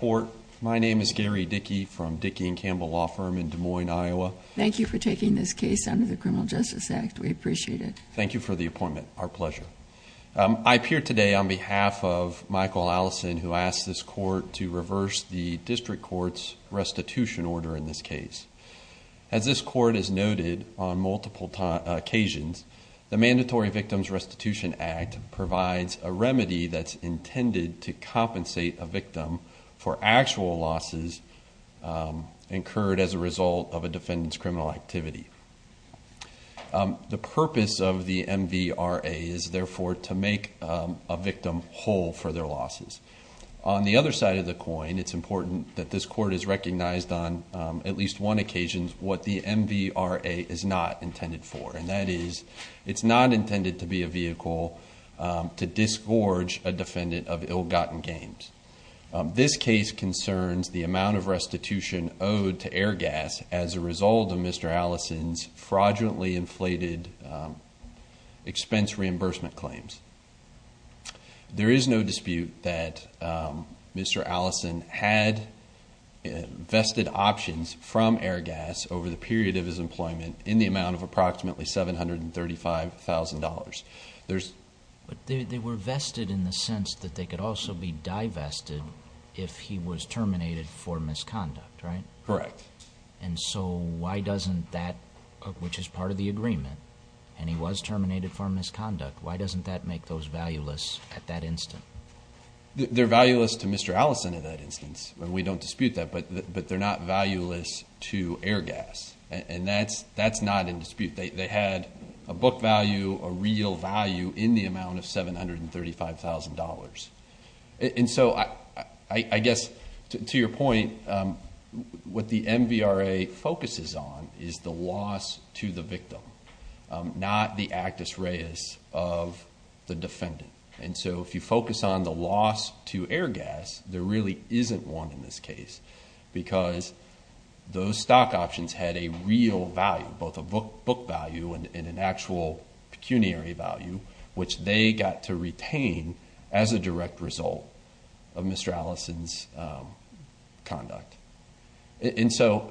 Court. My name is Gary Dickey from Dickey and Campbell law firm in Des Moines, Iowa. Thank you for taking this case under the Criminal Justice Act. We appreciate it. Thank you for the appointment. Our pleasure. I appear today on behalf of Michael Allison, who asked this court to reverse the district court's restitution order in this case. As this court has noted on multiple occasions, the Mandatory Victims Restitution Act provides a remedy that's intended to compensate a victim for actual losses incurred as a result of a defendant's criminal activity. The purpose of the MVRA is therefore to make a victim whole for their losses. On the other side of the coin, it's important that this court is recognized on at least one occasion what the MVRA is not intended for. And that is, it's not intended to be a vehicle to disgorge a defendant of ill-gotten gains. This case concerns the amount of restitution owed to Airgas as a result of Mr. Allison's fraudulently inflated expense reimbursement claims. There is no dispute that Mr. Allison had vested options from Airgas over the period of his employment in the amount of approximately $735,000. But they were vested in the sense that they could also be divested if he was terminated for misconduct, right? Correct. And so why doesn't that, which is part of the agreement, and he was terminated for misconduct, why doesn't that make those valueless at that instant? They're valueless to Mr. Allison in that instance, and we don't dispute that, but they're not valueless to Airgas. And that's not in dispute. They had a book value, a real value in the amount of $735,000. And so I guess to your point, what the MVRA focuses on is the loss to the victim, not the actus reus of the defendant. And so if you focus on the loss to Airgas, there really isn't one in this case because those stock options had a real value, both a book value and an actual pecuniary value, which they got to retain as a direct result of Mr. Allison's conduct. And so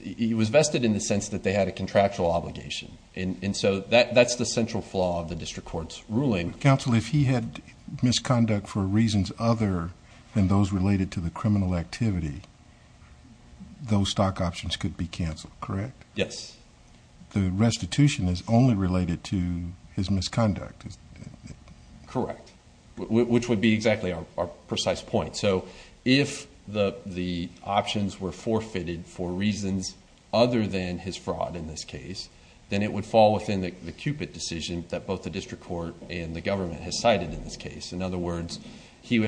he was vested in the sense that they had a contractual obligation. And so that's the central flaw of the district court's ruling. Counsel, if he had misconduct for reasons other than those related to the criminal activity, those stock options could be canceled, correct? Yes. The restitution is only related to his misconduct. Correct. Which would be exactly our precise point. So if the options were forfeited for reasons other than his fraud in this case, then it would fall within the Cupid decision that both the district court and the government has cited in this case. In other words, they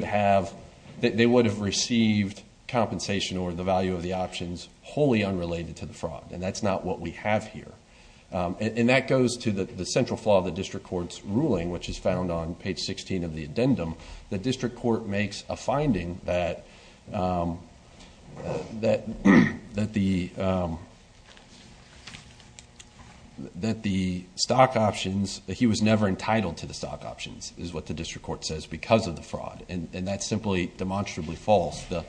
would have received compensation or the value of the options wholly unrelated to the fraud. And that's not what we have here. And that goes to the central flaw of the district court's ruling, which is found on page 16 of the addendum. The district court makes a finding that the stock options, he was never entitled to the stock options is what the district court says because of the fraud. And that's simply demonstrably false. The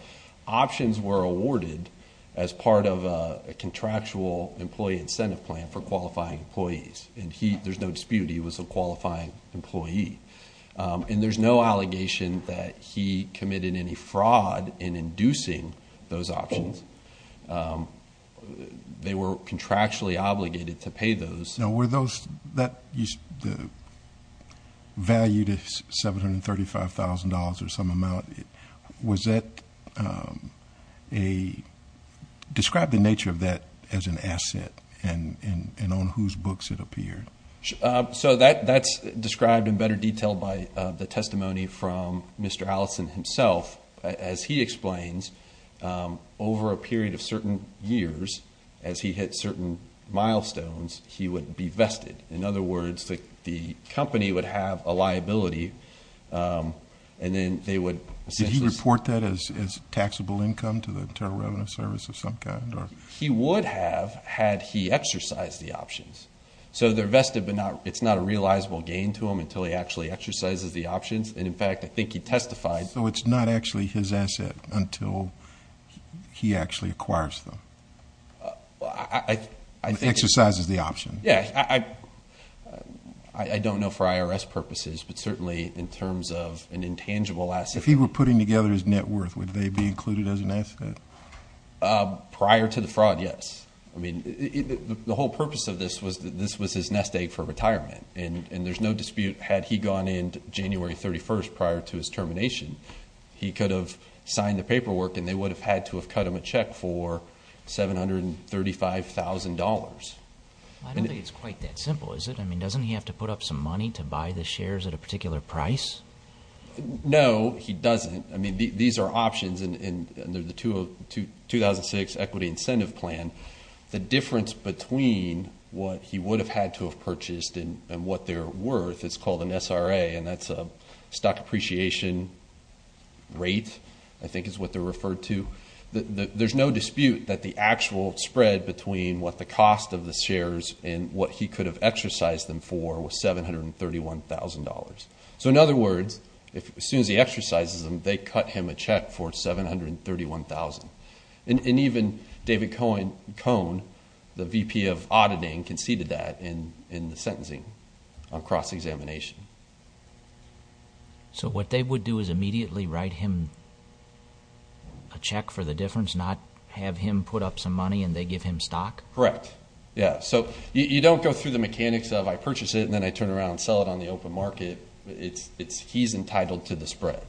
options were awarded as part of a contractual employee incentive plan for qualifying employees. And there's no dispute, he was a qualifying employee. And there's no allegation that he committed any fraud in inducing those options. They were contractually obligated to pay those. Now, were those that the value to $735,000 or some amount, was that a describe the nature of that as an asset and on whose books it appeared? So that's described in better detail by the testimony from Mr. Allison himself, as he explains, over a period of certain years, as he hit certain milestones, he would be vested. In other words, the company would have a liability. And then they would report that as taxable income to the Internal Revenue Service of some kind, or he would have had he exercised the options. So they're vested, but it's not a realizable gain to him until he actually exercises the options. And in fact, I think he testified. So it's not actually his asset until he actually acquires them. Exercises the option. Yeah. I don't know for IRS purposes, but certainly in terms of an intangible asset. If he were putting together his net worth, would they be included as an asset? Prior to the fraud, yes. I mean, the whole purpose of this was that this was his nest egg for retirement. And there's no dispute, had he gone in January 31st prior to his termination, he could have signed the paperwork and they would have had to have cut him a check for $735,000. I don't think it's quite that simple, is it? I mean, doesn't he have to put up some money to buy the shares at a particular price? No, he doesn't. I mean, these are options under the 2006 equity incentive plan. The difference between what he would have had to have purchased and what they're worth, it's called an SRA, and that's a stock appreciation rate, I think is what they're referred to. There's no dispute that the actual spread between what the cost of the shares and what he could have exercised them for was $731,000. So in other words, as soon as he exercises them, they cut him a check for $731,000. And even David Cohn, the VP of auditing, conceded that in the sentencing on cross-examination. So what they would do is immediately write him a check for the difference, not have him put up some money and they give him stock? Correct. Yeah. So you don't go through the mechanics of, I purchase it and then I turn around and sell it on the open market. He's entitled to the spread,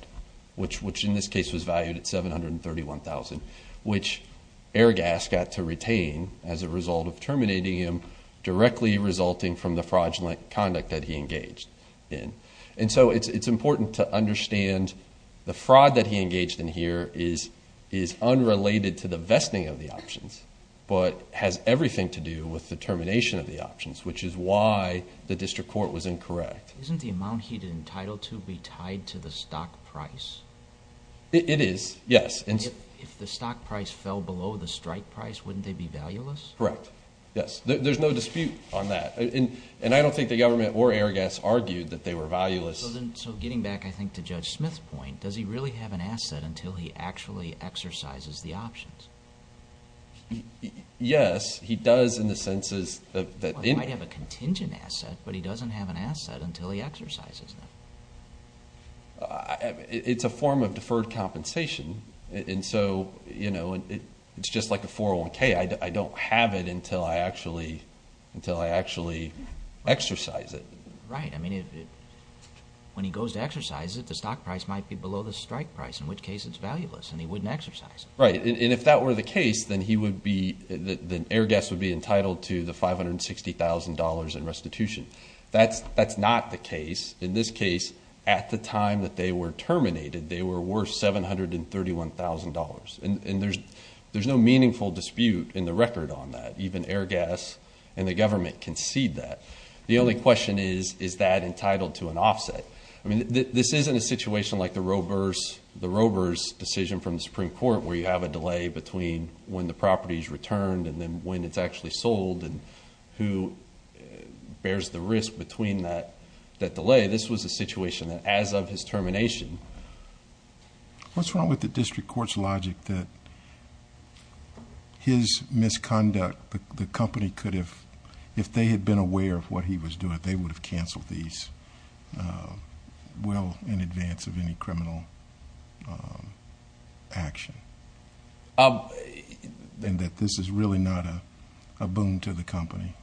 which in this case was valued at $731,000, which Airgas got to retain as a result of terminating him, directly resulting from the fraudulent conduct that he engaged in. And so it's important to understand the fraud that he engaged in here is unrelated to the vesting of the options, but has everything to do with the termination of the options, which is why the district court was incorrect. Isn't the amount he'd entitled to be tied to the stock price? It is. Yes. And if the stock price fell below the strike price, wouldn't they be valueless? Correct. Yes. There's no dispute on that. And I don't think the government or Airgas argued that they were valueless. So getting back, I think to Judge Smith's point, does he really have an asset until he actually exercises the options? Yes, he does in the sense that- He might have a contingent asset, but he doesn't have an asset until he exercises them. It's a form of deferred compensation. And so it's just like a 401k. I don't have it until I actually exercise it. Right. I mean, when he goes to exercise it, the stock price might be below the strike price, in which case it's valueless and he wouldn't exercise it. Right. And if that were the case, then Airgas would be entitled to the $560,000 in restitution. That's not the case. In this case, at the time that they were terminated, they were worth $731,000. And there's no meaningful dispute in the record on that. Even Airgas and the government concede that. The only question is, is that entitled to an offset? I mean, this isn't a situation like the Robur's decision from the Supreme Court, where you have a delay between when the property is returned and then when it's actually sold and who bears the risk between that delay. This was a situation that as of his termination. What's wrong with the district court's logic that his misconduct, the company could have, if they had been aware of what he was doing, they would have canceled these well in advance of any criminal action? And that this is really not a boon to the company?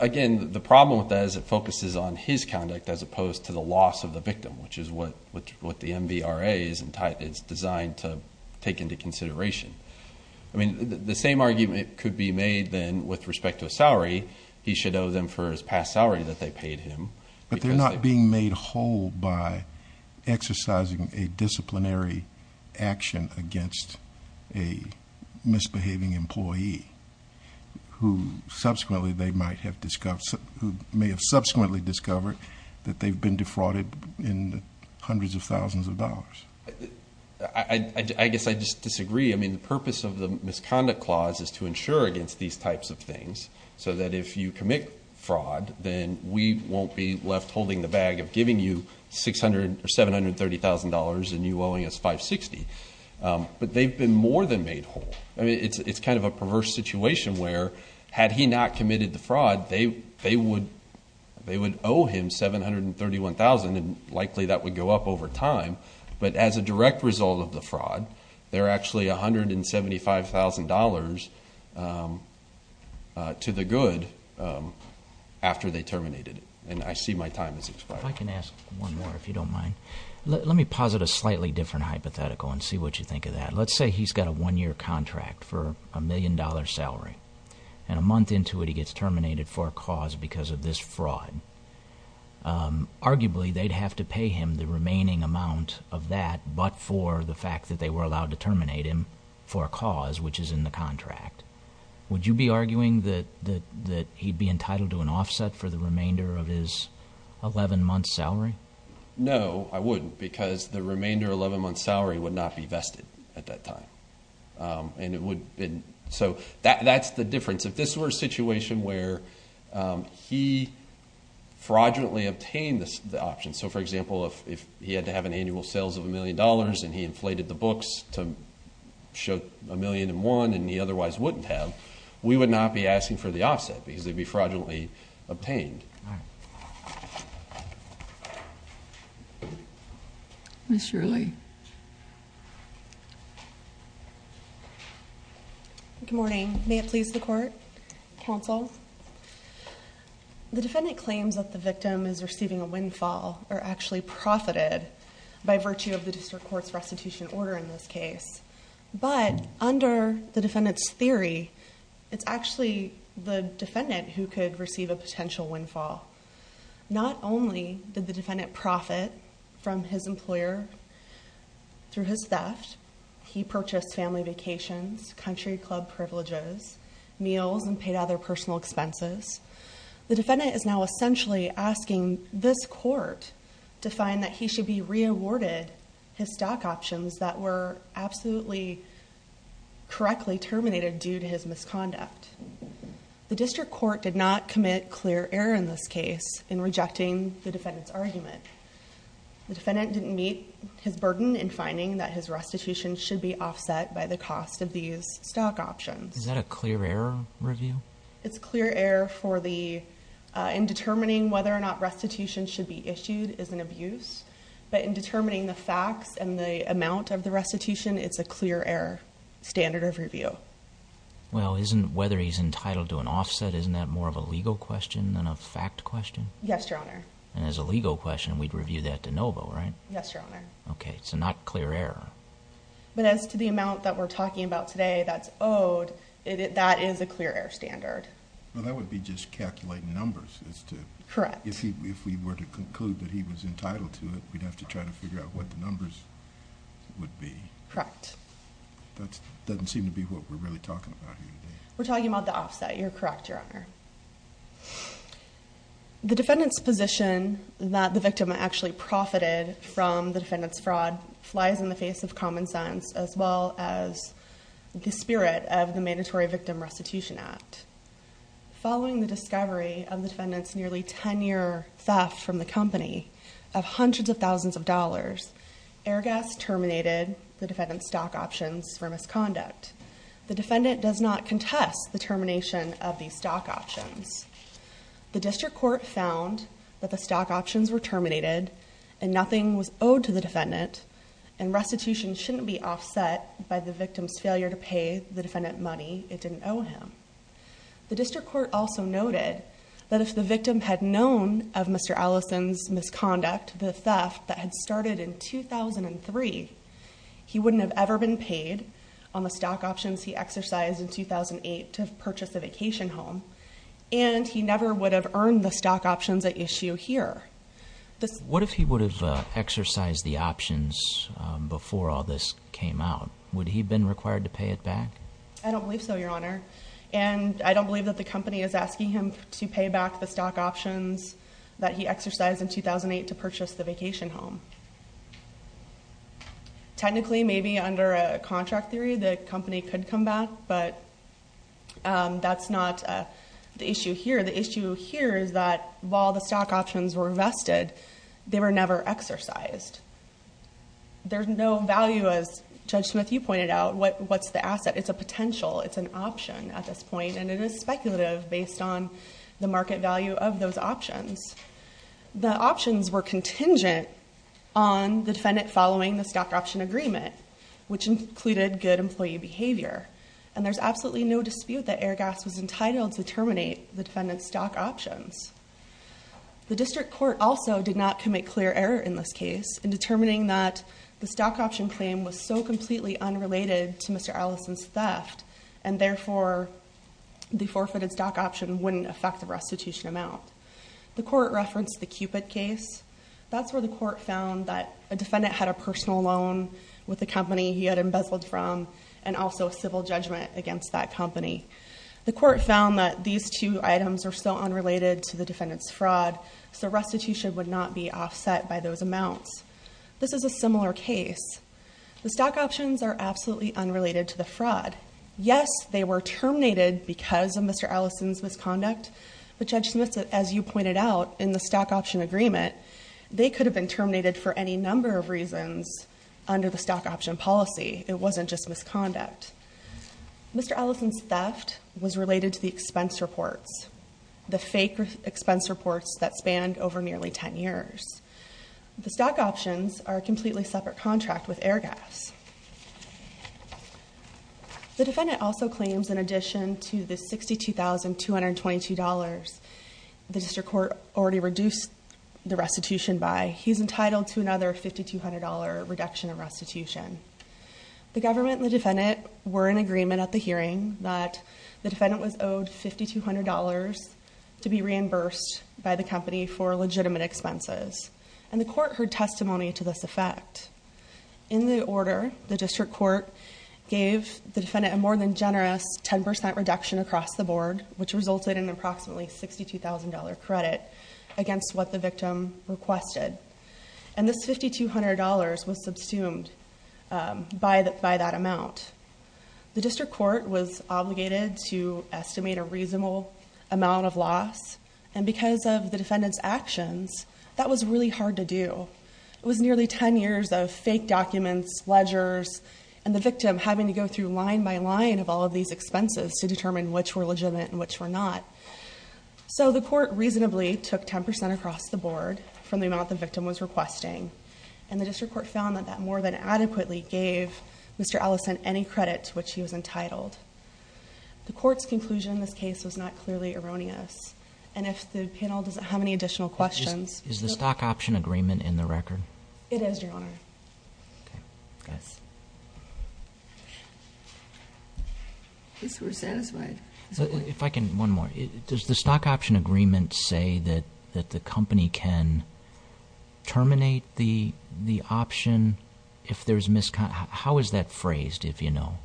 Again, the problem with that is it focuses on his conduct as opposed to the loss of the victim, which is what the MVRA is designed to take into consideration. I mean, the same argument could be made then with respect to a salary. He should owe them for his past salary that they paid him. But they're not being made whole by exercising a disciplinary action against a misbehaving employee who may have subsequently discovered that they've been defrauded in the hundreds of thousands of dollars. I guess I just disagree. I mean, the purpose of the misconduct clause is to ensure against these types of things, so that if you commit fraud, then we won't be left holding the bag of giving you $600,000 or $730,000 and you owing us $560,000. But they've been more than made whole. I mean, it's kind of a perverse situation where had he not committed the fraud, they would owe him $731,000 and likely that would go up over time. But as a direct result of the fraud, he owes them to the good after they terminated it. And I see my time has expired. If I can ask one more, if you don't mind. Let me posit a slightly different hypothetical and see what you think of that. Let's say he's got a one-year contract for a million dollar salary. And a month into it, he gets terminated for a cause because of this fraud. Arguably, they'd have to pay him the remaining amount of that, but for the fact that they were to terminate him for a cause, which is in the contract, would you be arguing that he'd be entitled to an offset for the remainder of his 11-month salary? No, I wouldn't because the remainder 11-month salary would not be vested at that time. So that's the difference. If this were a situation where he fraudulently obtained the option, so for example, if he had to have an $1 million and he inflated the books to show a million and one and he otherwise wouldn't have, we would not be asking for the offset because they'd be fraudulently obtained. Ms. Shirley. Good morning. May it please the court, counsel. The defendant claims that the victim is receiving a windfall or actually profited by virtue of the district court's restitution order in this case. But under the defendant's theory, it's actually the defendant who could receive a potential windfall. Not only did the defendant profit from his employer through his theft, he purchased family vacations, country club privileges, meals, and paid other personal expenses. The defendant is essentially asking this court to find that he should be re-awarded his stock options that were absolutely correctly terminated due to his misconduct. The district court did not commit clear error in this case in rejecting the defendant's argument. The defendant didn't meet his burden in finding that his restitution should be offset by the cost of these stock options. Is that a clear error review? It's clear error for the, in determining whether or not restitution should be issued is an abuse, but in determining the facts and the amount of the restitution, it's a clear error standard of review. Well, isn't whether he's entitled to an offset, isn't that more of a legal question than a fact question? Yes, your honor. And as a legal question, we'd review that de novo, right? Yes, your honor. Okay, so not clear error. But as to the amount that we're talking about today that's owed, that is a clear error standard. Well, that would be just calculating numbers as to... Correct. If he, if we were to conclude that he was entitled to it, we'd have to try to figure out what the numbers would be. Correct. That doesn't seem to be what we're really talking about here today. We're talking about the offset. You're correct, your honor. The defendant's position that the victim actually profited from the defendant's fraud flies in the the spirit of the Mandatory Victim Restitution Act. Following the discovery of the defendant's nearly 10-year theft from the company of hundreds of thousands of dollars, Airgas terminated the defendant's stock options for misconduct. The defendant does not contest the termination of these stock options. The district court found that the stock options were terminated and nothing was offset by the victim's failure to pay the defendant money it didn't owe him. The district court also noted that if the victim had known of Mr. Allison's misconduct, the theft that had started in 2003, he wouldn't have ever been paid on the stock options he exercised in 2008 to purchase a vacation home, and he never would have earned the stock options at issue here. What if he would have exercised the options before all this came out? Would he have been required to pay it back? I don't believe so, your honor, and I don't believe that the company is asking him to pay back the stock options that he exercised in 2008 to purchase the vacation home. Technically, maybe under a contract theory, the company could come back, but that's not the issue here. The issue here is that while the stock options were vested, they were never exercised. There's no value, as Judge Smith, you pointed out, what's the asset. It's a potential. It's an option at this point, and it is speculative based on the market value of those options. The options were contingent on the defendant following the stock option agreement, which included good employee behavior, and there's absolutely no dispute that Airgas was entitled to terminate the defendant's stock options. The district court also did not commit clear error in this case in determining that the stock option claim was so completely unrelated to Mr. Allison's theft, and therefore, the forfeited stock option wouldn't affect the restitution amount. The court referenced the Cupid case. That's where the court found that a defendant had a personal loan with a company he had embezzled from, and also civil judgment against that company. The court found that these two items are so unrelated to the defendant's fraud, so restitution would not be offset by those amounts. This is a similar case. The stock options are absolutely unrelated to the fraud. Yes, they were terminated because of Mr. Allison's misconduct, but Judge Smith, as you pointed out, in the stock option agreement, they could have been terminated for any number of reasons under the stock option policy. It wasn't just misconduct. Mr. Allison's theft was related to the expense reports, the fake expense reports that spanned over nearly 10 years. The stock options are a completely separate contract with Airgas. The defendant also claims, in addition to the $62,222, the district court already reduced the restitution by, he's entitled to another $5,200 reduction in restitution. The government and the defendant were in agreement at the hearing that the defendant was owed $5,200 to be reimbursed by the company for legitimate expenses, and the court heard testimony to this effect. In the order, the district court gave the defendant a more than generous 10% reduction across the board, which resulted in approximately $62,000 credit against what the victim requested, and this $5,200 was subsumed by that amount. The district court was obligated to estimate a reasonable amount of loss, and because of the defendant's actions, that was really hard to do. It was nearly 10 years of fake documents, ledgers, and the victim having to go through line by line of all of these expenses to determine which were legitimate and which were not. So the court reasonably took 10% across the board from the amount the victim was requesting, and the district court found that that more than adequately gave Mr. Allison any credit to which he was entitled. The court's conclusion in this case was not clearly erroneous, and if the panel doesn't have any additional questions- Is the stock option agreement in the record? It is, Your Honor. I guess we're satisfied. If I can, one more. Does the stock option agreement say that the company can terminate the option if there's misconduct? How is that phrased, if you know?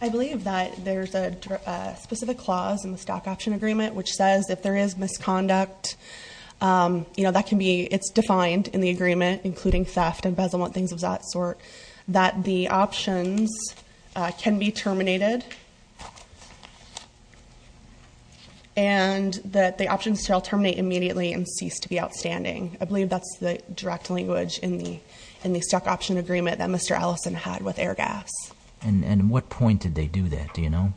I believe that there's a specific clause in the stock option agreement which says if there is misconduct, it's defined in the agreement, including theft, embezzlement, things of that sort, that the options can be terminated, and that the options shall terminate immediately and cease to be outstanding. I believe that's the direct language in the stock option agreement that Mr. Allison had with Airgas. And what point did they do that, do you know?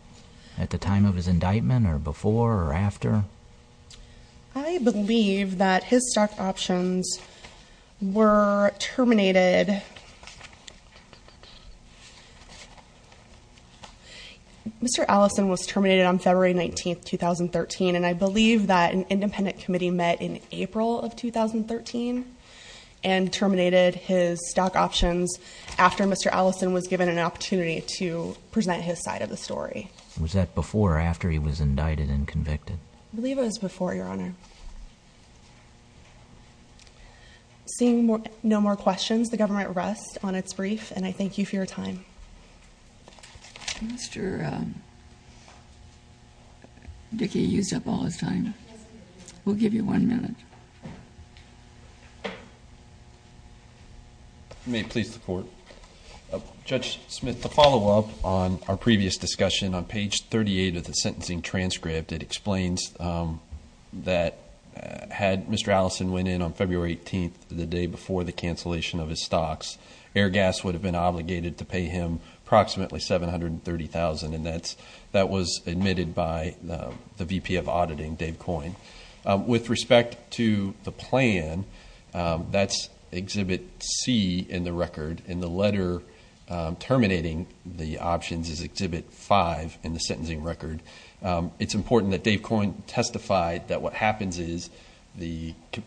At the time of his indictment, or before, or after? I believe that his stock options were terminated- Mr. Allison was terminated on February 19, 2013, and I believe that an independent committee met in April of 2013 and terminated his stock options after Mr. Allison was given an opportunity to present his side of the story. Was that before or after he was indicted and convicted? I believe it was before, Your Honor. Seeing no more questions, the government rests on its brief, and I thank you for your time. Mr. Dickey used up all his time. We'll give you one minute. You may please report. Judge Smith, to follow up on our previous discussion, on page 38 of the sentencing transcript, it explains that had Mr. Allison went in on February 18th, the day before the cancellation of his stocks, Airgas would have been obligated to pay him approximately $730,000, and that was admitted by the VP of Auditing, Dave Coyne. With respect to the plan, that's Exhibit C in the record, and the letter terminating the options is Exhibit V in the sentencing record, it's important that Dave Coyne testify that what happens is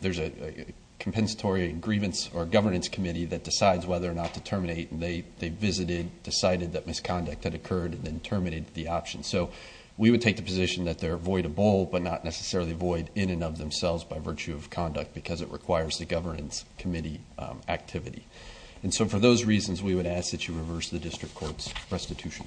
there's a compensatory grievance or governance committee that decides whether or not to terminate, and they visited, decided that misconduct had occurred, and then terminated the option. So we would take the position that they're avoidable, but not necessarily void in and of themselves by virtue of conduct, because it requires the governance committee activity. And so for those reasons, we would ask that you reverse the district court's restitution order.